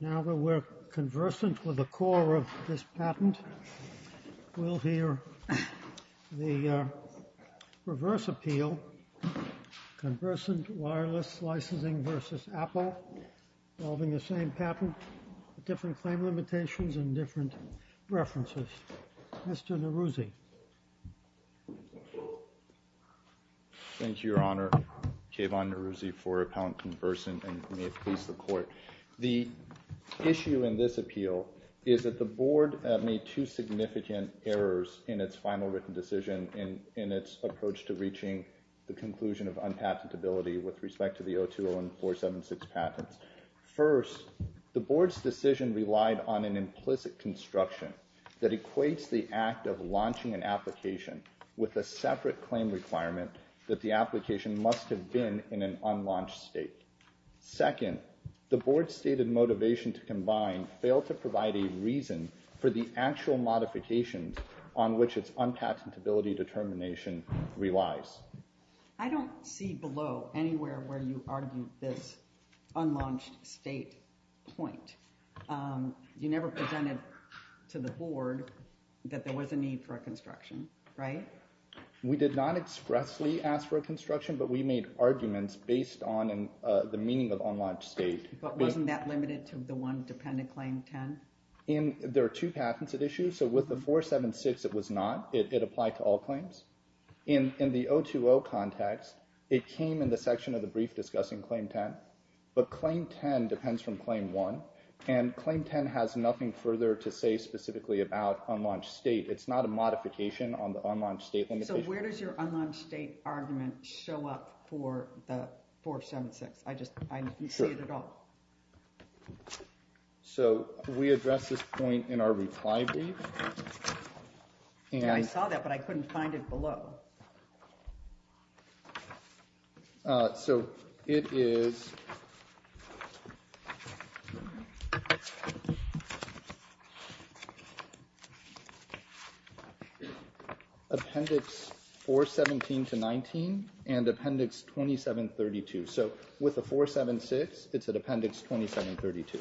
Now that we're conversant with the core of this patent, we'll hear the reverse appeal, Conversant Wireless Licensing v. Apple, involving the same patent, different claim limitations, and different references. Mr. Neruzzi. Thank you, Your Honor. Kayvon Neruzzi for Appellant Conversant, and may it please the Court. The issue in this appeal is that the Board made two significant errors in its final written decision in its approach to reaching the conclusion of unpatentability with respect to the 0201476 patents. First, the Board's decision relied on an implicit construction that equates the act of launching an application with a separate claim requirement that the application must have been in an unlaunched state. Second, the Board's stated motivation to combine failed to provide a reason for the actual modifications on which its unpatentability determination relies. I don't see below anywhere where you argued this unlaunched state point. You never presented to the Board that there was a need for a construction, right? We did not expressly ask for a construction, but we made arguments based on the meaning of unlaunched state. But wasn't that limited to the one dependent Claim 10? There are two patents at issue, so with the 476, it was not. It applied to all claims. In the 020 context, it came in the section of the brief discussing Claim 10, but Claim 10 depends from Claim 1, and Claim 10 has nothing further to say specifically about unlaunched state. It's not a modification on the unlaunched state limitation. So where does your unlaunched state argument show up for the 476? I just didn't see it at all. So we address this point in our reply brief. I saw that, but I couldn't find it below. So it is Appendix 417 to 19 and Appendix 2732. So with the 476, it's at Appendix 2732.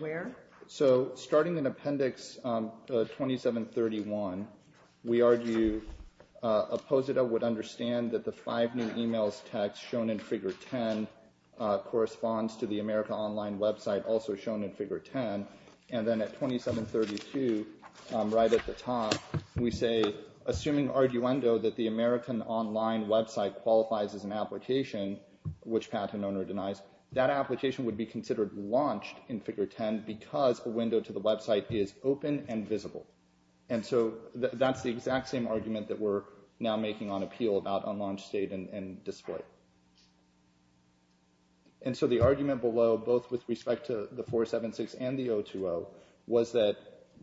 Where? So starting in Appendix 2731, we argue Opposita would understand that the five new e-mails text shown in Figure 10 corresponds to the America Online website also shown in Figure 10. And then at 2732, right at the top, we say, assuming arguendo that the American Online website qualifies as an application, which patent owner denies, that application would be considered launched in Figure 10 because a window to the website is open and visible. And so that's the exact same argument that we're now making on appeal about unlaunched state and display. And so the argument below, both with respect to the 476 and the 020, was that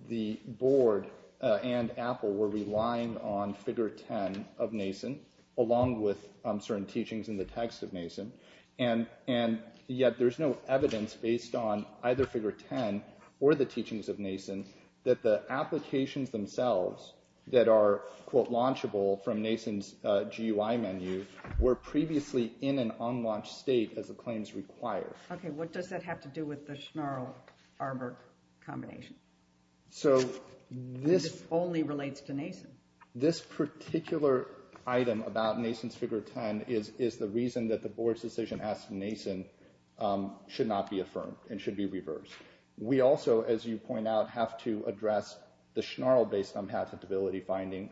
the board and Apple were relying on Figure 10 of NASEN along with certain teachings in the text of NASEN. And yet there's no evidence based on either Figure 10 or the teachings of NASEN that the applications themselves that are, quote, launchable from NASEN's GUI menu were previously in an unlaunched state as the claims require. Okay. What does that have to do with the Schnarl-Arbuck combination? So this... This only relates to NASEN. This particular item about NASEN's Figure 10 is the reason that the board's decision as to NASEN should not be affirmed and should be reversed. We also, as you point out, have to address the Schnarl based on patentability finding.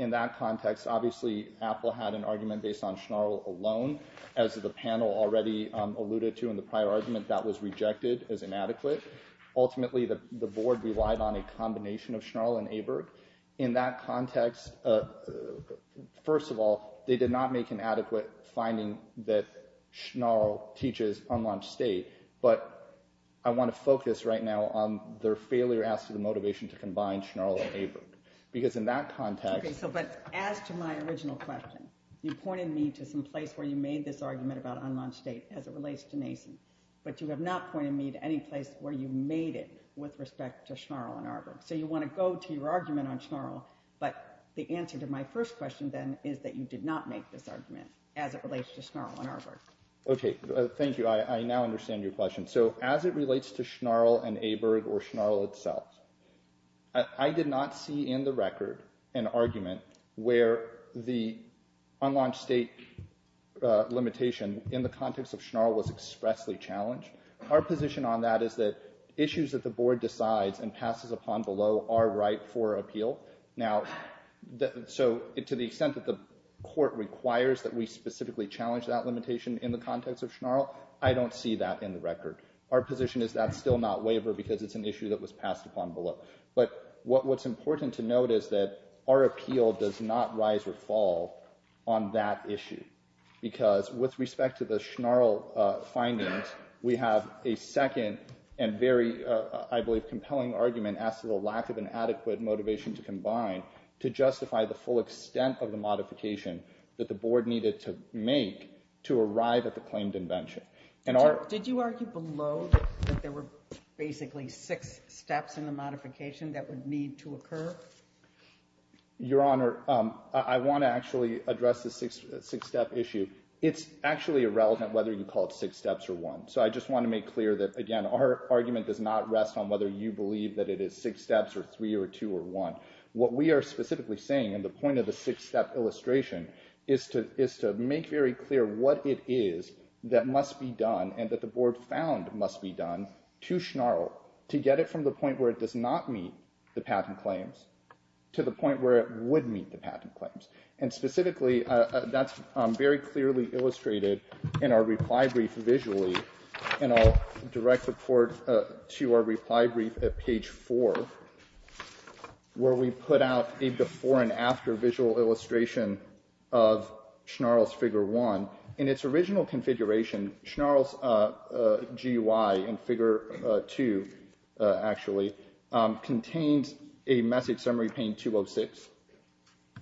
In that context, obviously, Apple had an argument based on Schnarl alone. As the panel already alluded to in the prior argument, that was rejected as inadequate. Ultimately, the board relied on a combination of Schnarl and Arbuck. In that context, first of all, they did not make an adequate finding that Schnarl teaches unlaunched state. But I want to focus right now on their failure as to the motivation to combine Schnarl and Arbuck. Because in that context... Okay. So but as to my original question, you pointed me to some place where you made this argument about unlaunched state as it relates to NASEN. But you have not pointed me to any place where you made it with respect to Schnarl and Arbuck. So you want to go to your argument on Schnarl. But the answer to my first question then is that you did not make this argument as it relates to Schnarl and Arbuck. Okay. Thank you. I now understand your question. So as it relates to Schnarl and Aberg or Schnarl itself, I did not see in the record an argument where the unlaunched state limitation in the context of Schnarl was expressly challenged. Our position on that is that issues that the board decides and passes upon below are right for appeal. Now, so to the extent that the court requires that we specifically challenge that limitation in the context of Schnarl, I don't see that in the record. Our position is that's still not waiver because it's an issue that was passed upon below. But what's important to note is that our appeal does not rise or fall on that issue. Because with respect to the Schnarl findings, we have a second and very, I believe, compelling argument as to the lack of an adequate motivation to combine to justify the full extent of the modification that the board needed to make to arrive at the claimed invention. Did you argue below that there were basically six steps in the modification that would need to occur? Your Honor, I want to actually address the six-step issue. It's actually irrelevant whether you call it six steps or one. So I just want to make clear that, again, our argument does not rest on whether you believe that it is six steps or three or two or one. What we are specifically saying in the point of the six-step illustration is to make very clear what it is that must be done and that the board found must be done to Schnarl to get it from the point where it does not meet the patent claims to the point where it would meet the patent claims. And specifically, that's very clearly illustrated in our reply brief visually, and I'll direct the court to our reply brief at page four, where we put out a before and after visual illustration of Schnarl's figure one. In its original configuration, Schnarl's GUI in figure two, actually, contains a message summary pane 206.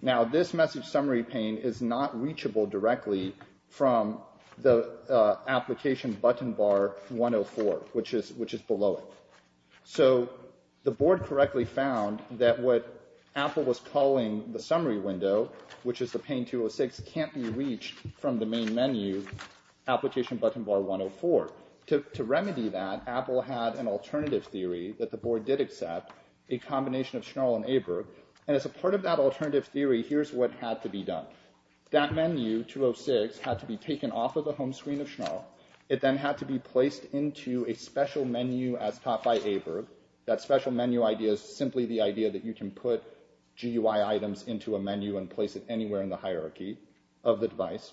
Now, this message summary pane is not reachable directly from the application button bar 104, which is below it. So the board correctly found that what Apple was calling the summary window, which is the pane 206, can't be reached from the main menu application button bar 104. To remedy that, Apple had an alternative theory that the board did accept, a combination of Schnarl and Aberg, and as a part of that alternative theory, here's what had to be done. That menu, 206, had to be taken off of the home screen of Schnarl. It then had to be placed into a special menu as taught by Aberg. That special menu idea is simply the idea that you can put GUI items into a menu and place it anywhere in the hierarchy of the device.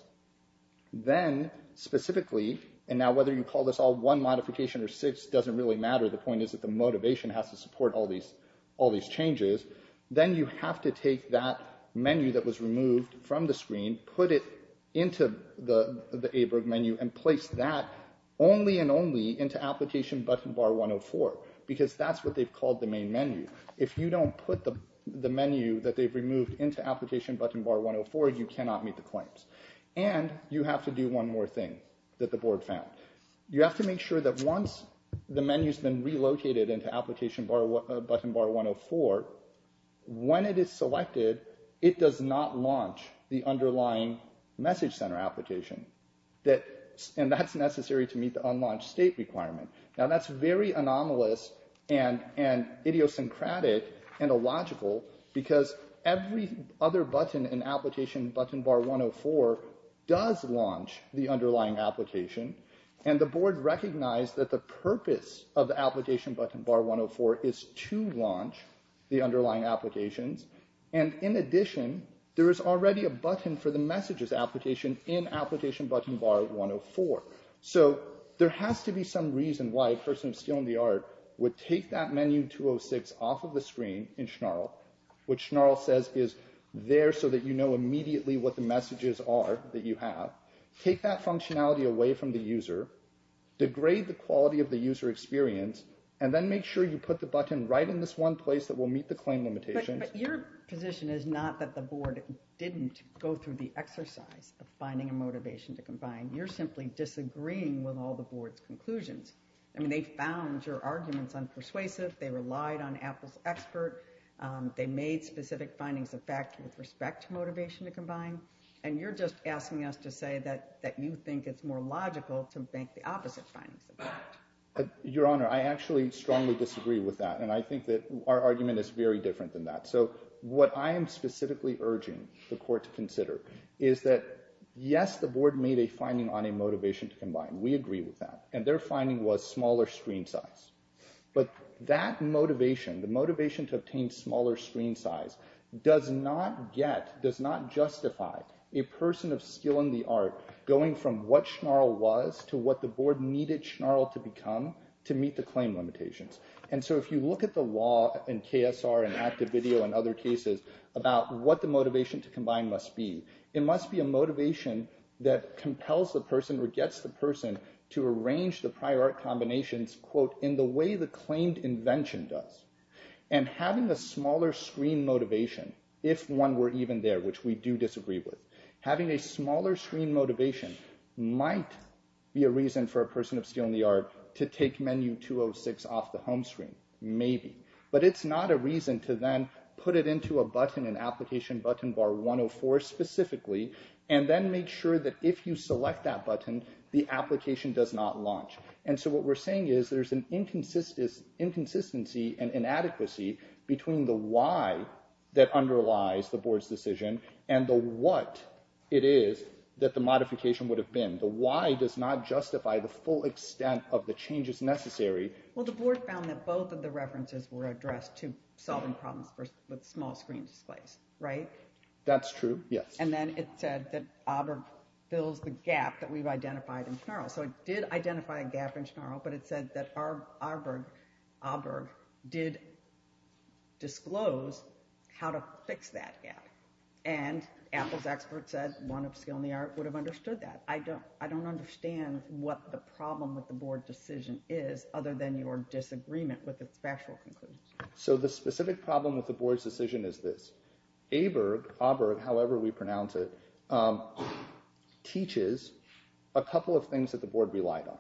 Then, specifically, and now whether you call this all one modification or six doesn't really matter. The point is that the motivation has to support all these changes. Then you have to take that menu that was removed from the screen, put it into the Aberg menu, and place that only and only into application button bar 104, because that's what they've called the main menu. If you don't put the menu that they've removed into application button bar 104, you cannot meet the claims. You have to do one more thing that the board found. You have to make sure that once the menu's been relocated into application button bar 104, when it is selected, it does not launch the underlying message center application. That's necessary to meet the unlaunched state requirement. That's very anomalous and idiosyncratic and illogical because every other button in application button bar 104 does launch the underlying application. The board recognized that the purpose of the application button bar 104 is to launch the underlying applications. In addition, there is already a button for the messages application in application button bar 104. There has to be some reason why a person of skill and the art would take that menu 206 off of the screen in Schnarl, which Schnarl says is there so that you know immediately what the messages are that you have, take that functionality away from the user, degrade the quality of the user experience, and then make sure you put the button right in this one place that will meet the claim limitations. But your position is not that the board didn't go through the exercise of finding a motivation to combine. You're simply disagreeing with all the board's conclusions. I mean, they found your arguments unpersuasive. They relied on Apple's expert. They made specific findings of fact with respect to motivation to combine. And you're just asking us to say that that you think it's more logical to make the opposite findings. Your Honor, I actually strongly disagree with that. And I think that our argument is very different than that. So what I am specifically urging the court to consider is that, yes, the board made a finding on a motivation to combine. We agree with that. And their finding was smaller screen size. But that motivation, the motivation to obtain smaller screen size, does not get, does not justify a person of skill and the art going from what Schnarl was to what the board needed Schnarl to become to meet the claim limitations. And so if you look at the law in KSR and active video and other cases about what the motivation to combine must be, it must be a motivation that compels the person or gets the person to arrange the prior art combinations, quote, in the way the claimed invention does. And having a smaller screen motivation, if one were even there, which we do disagree with, having a smaller screen motivation might be a reason for a person of skill and the art to take menu 206 off the home screen. Maybe. But it's not a reason to then put it into a button, an application button bar 104 specifically, and then make sure that if you select that button, the application does not launch. And so what we're saying is there's an inconsistency and inadequacy between the why that underlies the board's decision and the what it is that the modification would have been. The why does not justify the full extent of the changes necessary. Well, the board found that both of the references were addressed to solving problems with small screen displays. Right. That's true. Yes. And then it said that Auburn fills the gap that we've identified in general. So it did identify a gap in general, but it said that our Arbor did disclose how to fix that gap. And Apple's expert said one of skill in the art would have understood that. I don't I don't understand what the problem with the board decision is other than your disagreement with its factual conclusions. So the specific problem with the board's decision is this. Aberg, however we pronounce it, teaches a couple of things that the board relied on.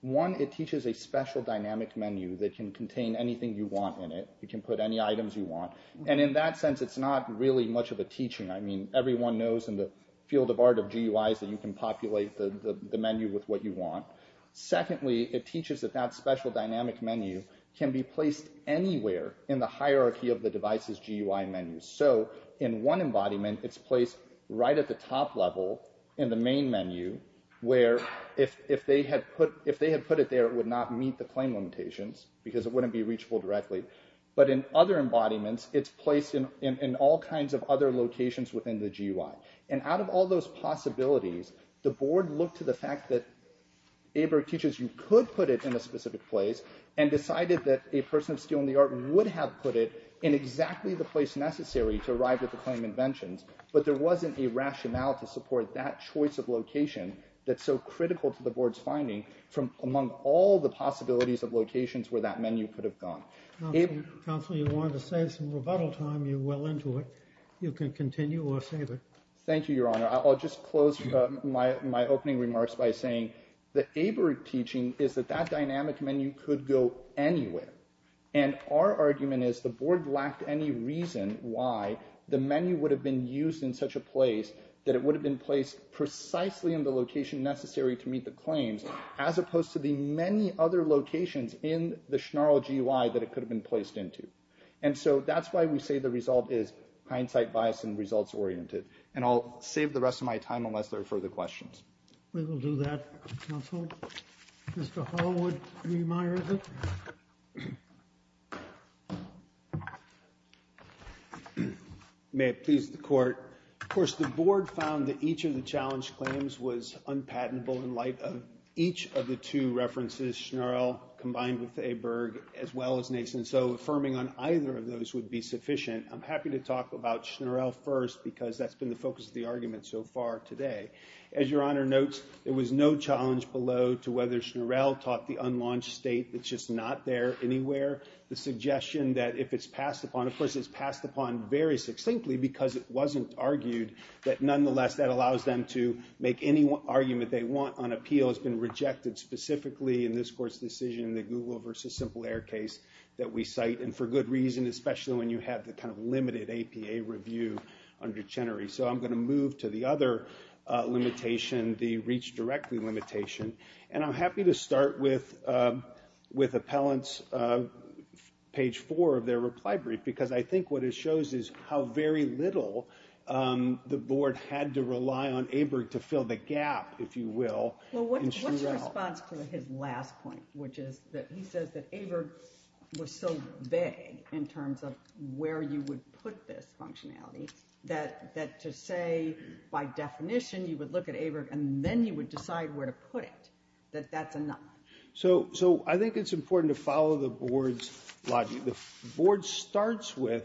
One, it teaches a special dynamic menu that can contain anything you want in it. You can put any items you want. And in that sense, it's not really much of a teaching. I mean, everyone knows in the field of art of GUIs that you can populate the menu with what you want. Secondly, it teaches that that special dynamic menu can be placed anywhere in the hierarchy of the device's GUI menu. So in one embodiment, it's placed right at the top level in the main menu where if they had put if they had put it there, it would not meet the claim limitations because it wouldn't be reachable directly. But in other embodiments, it's placed in all kinds of other locations within the GUI. And out of all those possibilities, the board looked to the fact that Aberg teaches you could put it in a specific place and decided that a person of skill in the art would have put it in exactly the place necessary to arrive at the claim inventions. But there wasn't a rationale to support that choice of location that's so critical to the board's finding from among all the possibilities of locations where that menu could have gone. Counsel, you wanted to save some rebuttal time. You're well into it. You can continue or save it. Thank you, Your Honor. I'll just close my opening remarks by saying that Aberg teaching is that that dynamic menu could go anywhere. And our argument is the board lacked any reason why the menu would have been used in such a place that it would have been placed precisely in the location necessary to meet the claims, as opposed to the many other locations in the Schnarl GUI that it could have been placed into. And so that's why we say the result is hindsight bias and results-oriented. And I'll save the rest of my time unless there are further questions. We will do that, counsel. Mr. Hollowood, do you mind? May it please the Court. Of course, the board found that each of the challenge claims was unpatentable in light of each of the two references, Schnarl combined with Aberg, as well as Nason. So affirming on either of those would be sufficient. I'm happy to talk about Schnarl first because that's been the focus of the argument so far today. As Your Honor notes, there was no challenge below to whether Schnarl taught the unlaunched state, it's just not there anywhere. The suggestion that if it's passed upon, of course, it's passed upon very succinctly because it wasn't argued. But nonetheless, that allows them to make any argument they want on appeal. It's been rejected specifically in this Court's decision, the Google versus Simple Air case that we cite. And for good reason, especially when you have the kind of limited APA review under Chenery. So I'm going to move to the other limitation, the Reach Directly limitation. And I'm happy to start with appellant's page four of their reply brief because I think what it shows is how very little the board had to rely on Aberg to fill the gap, if you will, in Schnarl. What's your response to his last point, which is that he says that Aberg was so vague in terms of where you would put this functionality that to say, by definition, you would look at Aberg and then you would decide where to put it, that that's enough? So I think it's important to follow the board's logic. The board starts with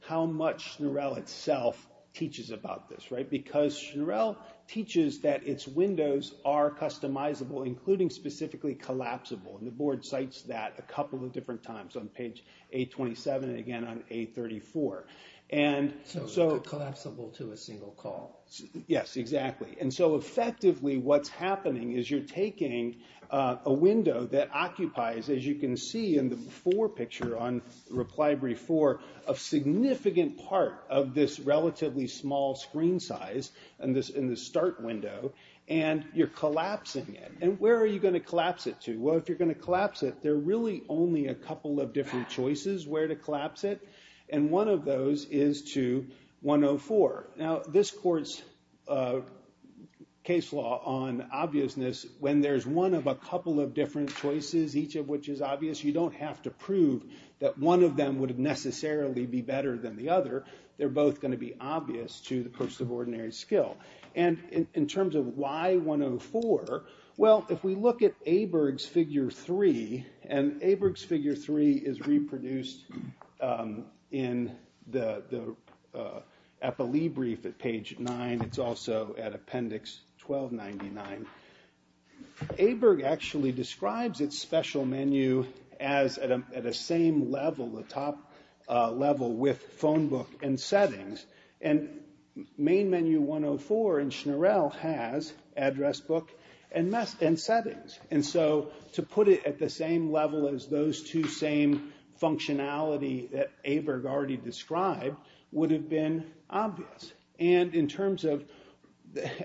how much Schnarl itself teaches about this, right? Because Schnarl teaches that its windows are customizable, including specifically collapsible. And the board cites that a couple of different times on page 827 and again on 834. So collapsible to a single call. Yes, exactly. And so effectively what's happening is you're taking a window that occupies, as you can see in the before picture on reply brief four, a significant part of this relatively small screen size in the start window, and you're collapsing it. And where are you going to collapse it to? Well, if you're going to collapse it, there are really only a couple of different choices where to collapse it. And one of those is to 104. Now, this court's case law on obviousness, when there's one of a couple of different choices, each of which is obvious, you don't have to prove that one of them would necessarily be better than the other. They're both going to be obvious to the person of ordinary skill. And in terms of why 104? Well, if we look at Aberg's figure three, and Aberg's figure three is reproduced in the epilee brief at page nine. It's also at appendix 1299. Aberg actually describes its special menu as at a same level, the top level, with phone book and settings. And main menu 104 in Schnorell has address book and settings. And so to put it at the same level as those two same functionality that Aberg already described would have been obvious. And in terms of,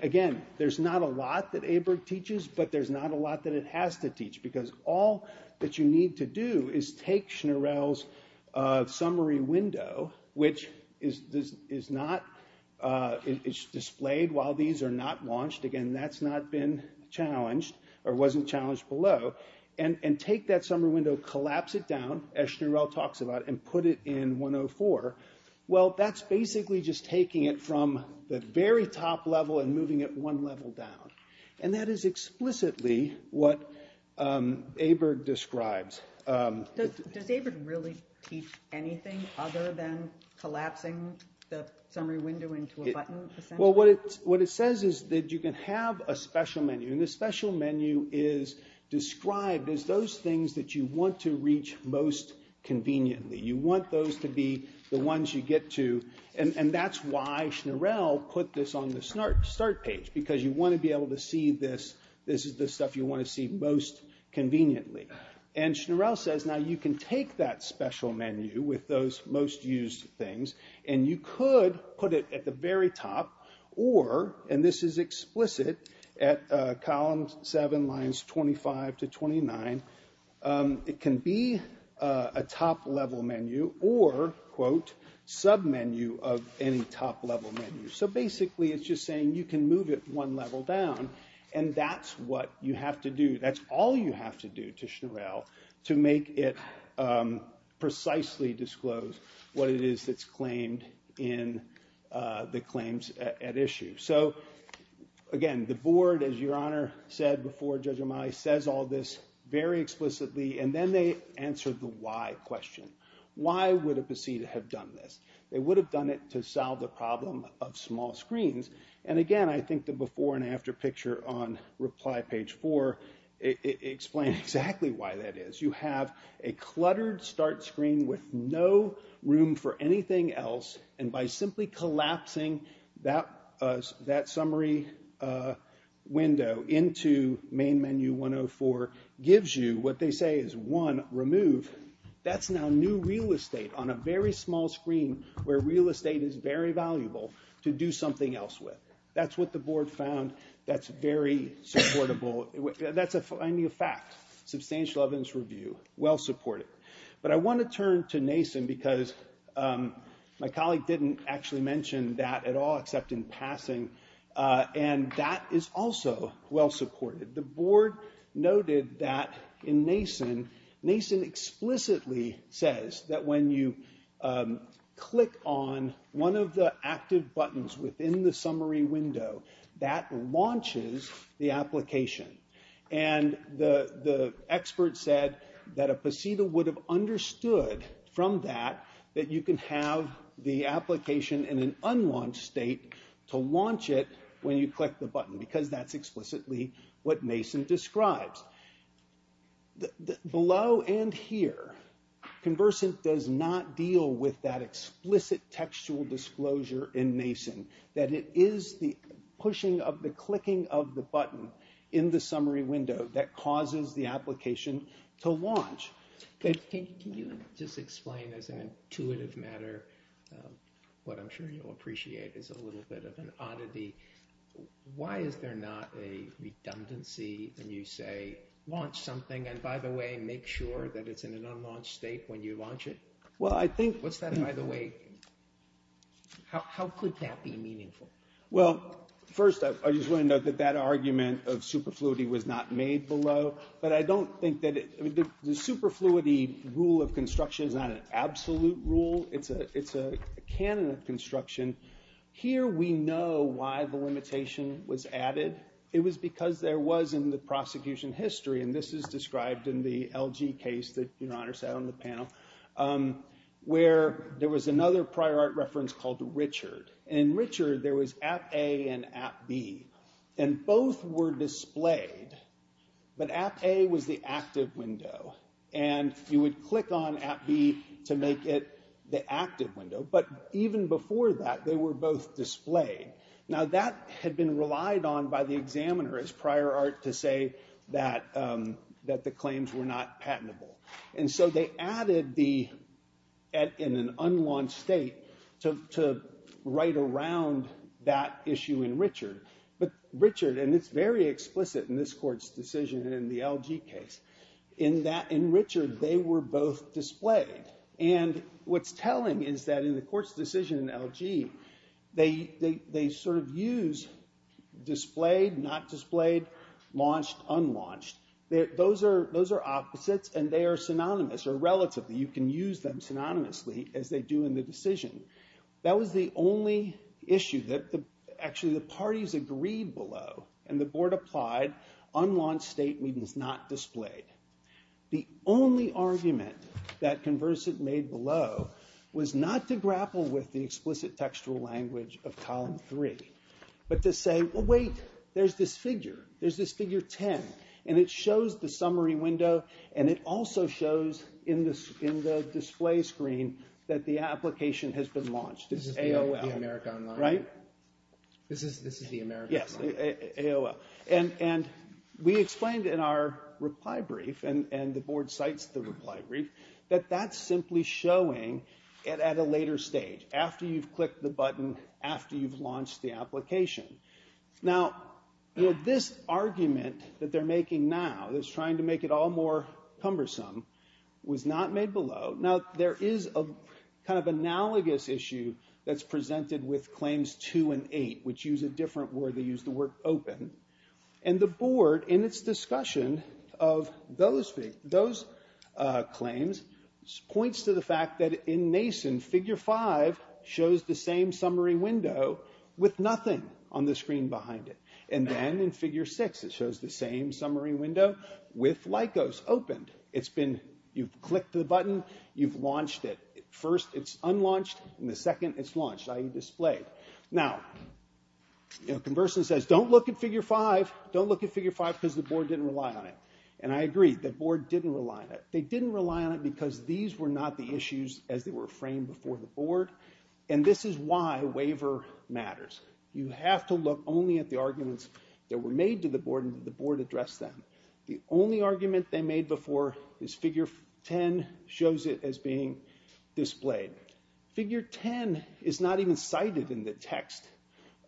again, there's not a lot that Aberg teaches, but there's not a lot that it has to teach, because all that you need to do is take Schnorell's summary window, which is displayed while these are not launched. Again, that's not been challenged or wasn't challenged below. And take that summary window, collapse it down, as Schnorell talks about, and put it in 104. Well, that's basically just taking it from the very top level and moving it one level down. And that is explicitly what Aberg describes. Does Aberg really teach anything other than collapsing the summary window into a button, essentially? Well, what it says is that you can have a special menu. And the special menu is described as those things that you want to reach most conveniently. You want those to be the ones you get to. And that's why Schnorell put this on the start page, because you want to be able to see this. This is the stuff you want to see most conveniently. And Schnorell says, now, you can take that special menu with those most used things, and you could put it at the very top. And this is explicit at columns 7, lines 25 to 29. It can be a top-level menu or, quote, submenu of any top-level menu. So basically, it's just saying you can move it one level down, and that's what you have to do. That's all you have to do to Schnorell to make it precisely disclose what it is that's claimed in the claims at issue. So, again, the board, as Your Honor said before Judge O'Malley, says all this very explicitly. And then they answer the why question. Why would a proceeding have done this? They would have done it to solve the problem of small screens. And, again, I think the before and after picture on reply page 4 explains exactly why that is. You have a cluttered start screen with no room for anything else. And by simply collapsing that summary window into main menu 104 gives you what they say is, one, remove. That's now new real estate on a very small screen where real estate is very valuable to do something else with. That's what the board found that's very supportable. That's a new fact, substantial evidence review, well-supported. But I want to turn to NASEN because my colleague didn't actually mention that at all except in passing. And that is also well-supported. The board noted that in NASEN, NASEN explicitly says that when you click on one of the active buttons within the summary window, that launches the application. And the expert said that a PCETA would have understood from that that you can have the application in an unlaunched state to launch it when you click the button because that's explicitly what NASEN describes. Below and here, Conversant does not deal with that explicit textual disclosure in NASEN. That it is the pushing of the clicking of the button in the summary window that causes the application to launch. Can you just explain as an intuitive matter what I'm sure you'll appreciate is a little bit of an oddity. Why is there not a redundancy when you say launch something and by the way make sure that it's in an unlaunched state when you launch it? What's that by the way? How could that be meaningful? Well, first I just want to note that that argument of superfluity was not made below. But I don't think that the superfluity rule of construction is not an absolute rule. It's a canon of construction. Here we know why the limitation was added. It was because there was in the prosecution history and this is described in the LG case that your honor sat on the panel. Where there was another prior art reference called Richard. In Richard there was app A and app B. And both were displayed. But app A was the active window. And you would click on app B to make it the active window. But even before that they were both displayed. Now that had been relied on by the examiner as prior art to say that the claims were not patentable. And so they added the in an unlaunched state to write around that issue in Richard. But Richard and it's very explicit in this court's decision in the LG case. In Richard they were both displayed. And what's telling is that in the court's decision in LG they sort of use displayed, not displayed, launched, unlaunched. Those are opposites and they are synonymous or relatively. You can use them synonymously as they do in the decision. That was the only issue that actually the parties agreed below. And the board applied unlaunched state means not displayed. The only argument that Conversant made below was not to grapple with the explicit textual language of column 3. But to say, well, wait, there's this figure. There's this figure 10. And it shows the summary window. And it also shows in the display screen that the application has been launched. It's AOL. This is the America Online. Right. This is the America Online. Yes, AOL. And we explained in our reply brief, and the board cites the reply brief, that that's simply showing it at a later stage. After you've clicked the button, after you've launched the application. Now, this argument that they're making now that's trying to make it all more cumbersome was not made below. Now, there is a kind of analogous issue that's presented with Claims 2 and 8, which use a different word. They use the word open. And the board, in its discussion of those claims, points to the fact that in Mason, Figure 5 shows the same summary window with nothing on the screen behind it. And then in Figure 6, it shows the same summary window with Lycos opened. You've clicked the button. You've launched it. First, it's unlaunched. And the second, it's launched, i.e., displayed. Now, Conversion says, don't look at Figure 5. Don't look at Figure 5 because the board didn't rely on it. And I agree. The board didn't rely on it. They didn't rely on it because these were not the issues as they were framed before the board. And this is why waiver matters. You have to look only at the arguments that were made to the board and the board addressed them. The only argument they made before is Figure 10 shows it as being displayed. Figure 10 is not even cited in the text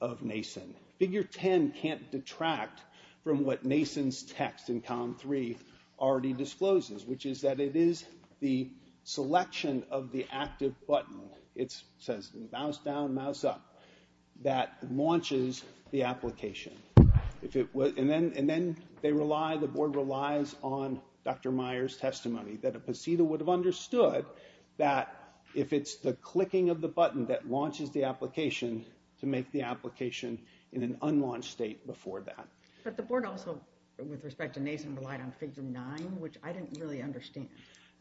of Mason. Figure 10 can't detract from what Mason's text in Column 3 already discloses, which is that it is the selection of the active button. It says mouse down, mouse up. That launches the application. And then they rely, the board relies on Dr. Meyer's testimony, that a PCETA would have understood that if it's the clicking of the button that launches the application, to make the application in an unlaunched state before that. But the board also, with respect to Mason, relied on Figure 9, which I didn't really understand.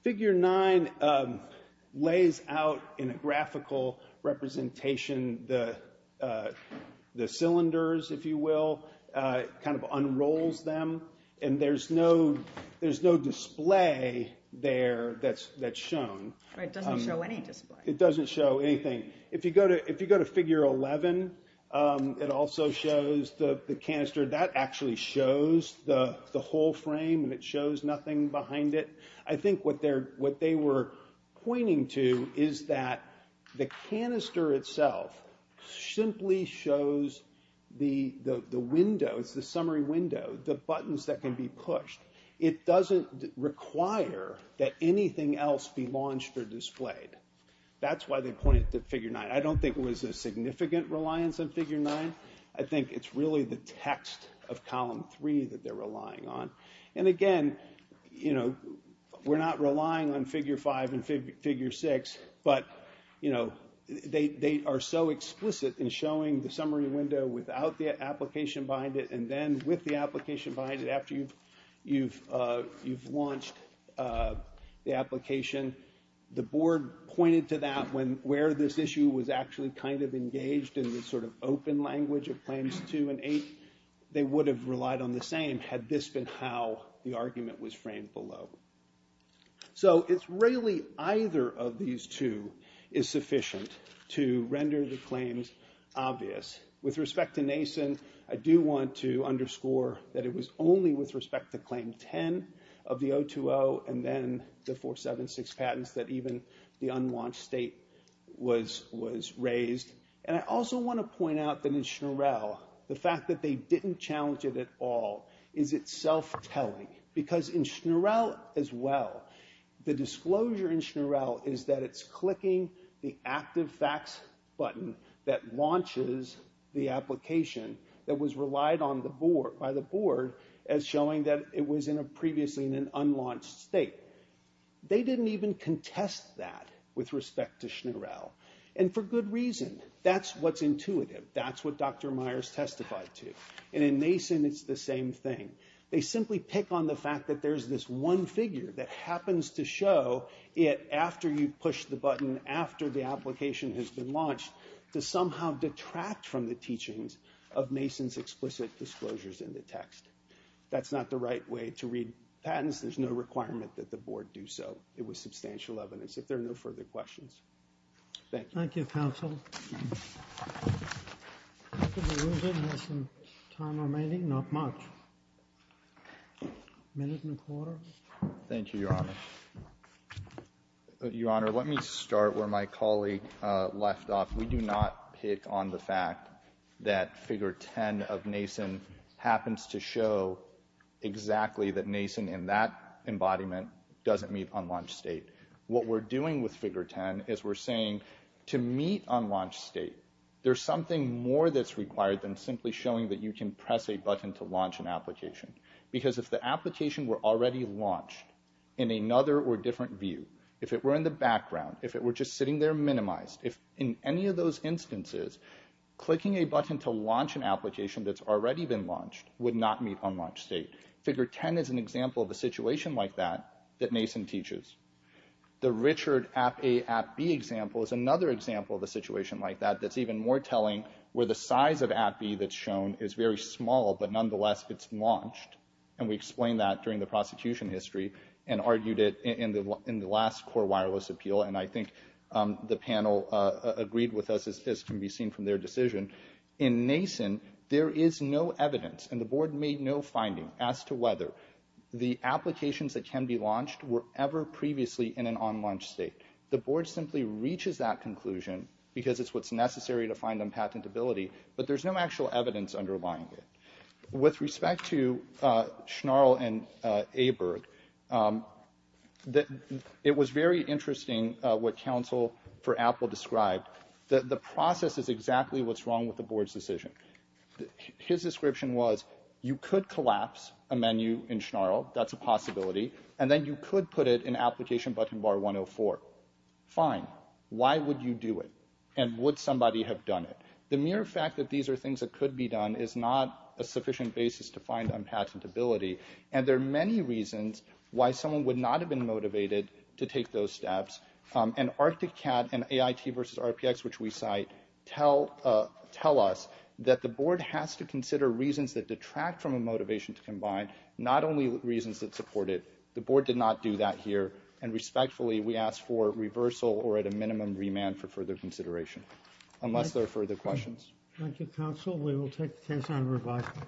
Figure 9 lays out in a graphical representation the cylinders, if you will. It kind of unrolls them. And there's no display there that's shown. It doesn't show any display. It doesn't show anything. If you go to Figure 11, it also shows the canister. That actually shows the whole frame and it shows nothing behind it. I think what they were pointing to is that the canister itself simply shows the window, it's the summary window, the buttons that can be pushed. It doesn't require that anything else be launched or displayed. That's why they pointed to Figure 9. I don't think it was a significant reliance on Figure 9. I think it's really the text of Column 3 that they're relying on. And again, we're not relying on Figure 5 and Figure 6, but they are so explicit in showing the summary window without the application behind it and then with the application behind it after you've launched the application. The board pointed to that where this issue was actually kind of engaged in the sort of open language of Claims 2 and 8. They would have relied on the same had this been how the argument was framed below. So it's really either of these two is sufficient to render the claims obvious. With respect to Nason, I do want to underscore that it was only with respect to Claim 10 of the 020 and then the 476 patents that even the unlaunched state was raised. And I also want to point out that in Schnurell, the fact that they didn't challenge it at all is it self-telling. Because in Schnurell as well, the disclosure in Schnurell is that it's clicking the active facts button that launches the application that was relied on by the board as showing that it was previously in an unlaunched state. They didn't even contest that with respect to Schnurell. And for good reason. That's what's intuitive. That's what Dr. Myers testified to. And in Nason, it's the same thing. They simply pick on the fact that there's this one figure that happens to show it after you push the button, after the application has been launched to somehow detract from the teachings of Nason's explicit disclosures in the text. That's not the right way to read patents. There's no requirement that the board do so. It was substantial evidence. If there are no further questions. Thank you. Thank you, counsel. We have some time remaining. Not much. A minute and a quarter. Thank you, Your Honor. Your Honor, let me start where my colleague left off. We do not pick on the fact that figure 10 of Nason happens to show exactly that Nason in that embodiment doesn't meet unlaunched state. What we're doing with figure 10 is we're saying to meet unlaunched state, there's something more that's required than simply showing that you can press a button to launch an application. Because if the application were already launched in another or different view, if it were in the background, if it were just sitting there minimized, if in any of those instances, clicking a button to launch an application that's already been launched would not meet unlaunched state. Figure 10 is an example of a situation like that that Nason teaches. The Richard app A app B example is another example of a situation like that that's even more telling where the size of app B that's shown is very small, but nonetheless it's launched. And we explained that during the prosecution history and argued it in the last core wireless appeal. And I think the panel agreed with us as can be seen from their decision. In Nason, there is no evidence, and the board made no finding as to whether the applications that can be launched were ever previously in an unlaunched state. The board simply reaches that conclusion because it's what's necessary to find unpatentability, but there's no actual evidence underlying it. With respect to Schnarl and Aberg, it was very interesting what counsel for Apple described that the process is exactly what's wrong with the board's decision. His description was you could collapse a menu in Schnarl, that's a possibility, and then you could put it in application button bar 104. Fine. Why would you do it? And would somebody have done it? The mere fact that these are things that could be done is not a sufficient basis to find unpatentability, and there are many reasons why someone would not have been motivated to take those steps. And Arctic Cat and AIT versus RPX, which we cite, tell us that the board has to consider reasons that detract from a motivation to combine, not only reasons that support it. The board did not do that here, and respectfully we ask for reversal or at a minimum remand for further consideration, unless there are further questions. Thank you, counsel. We will take the case on revising.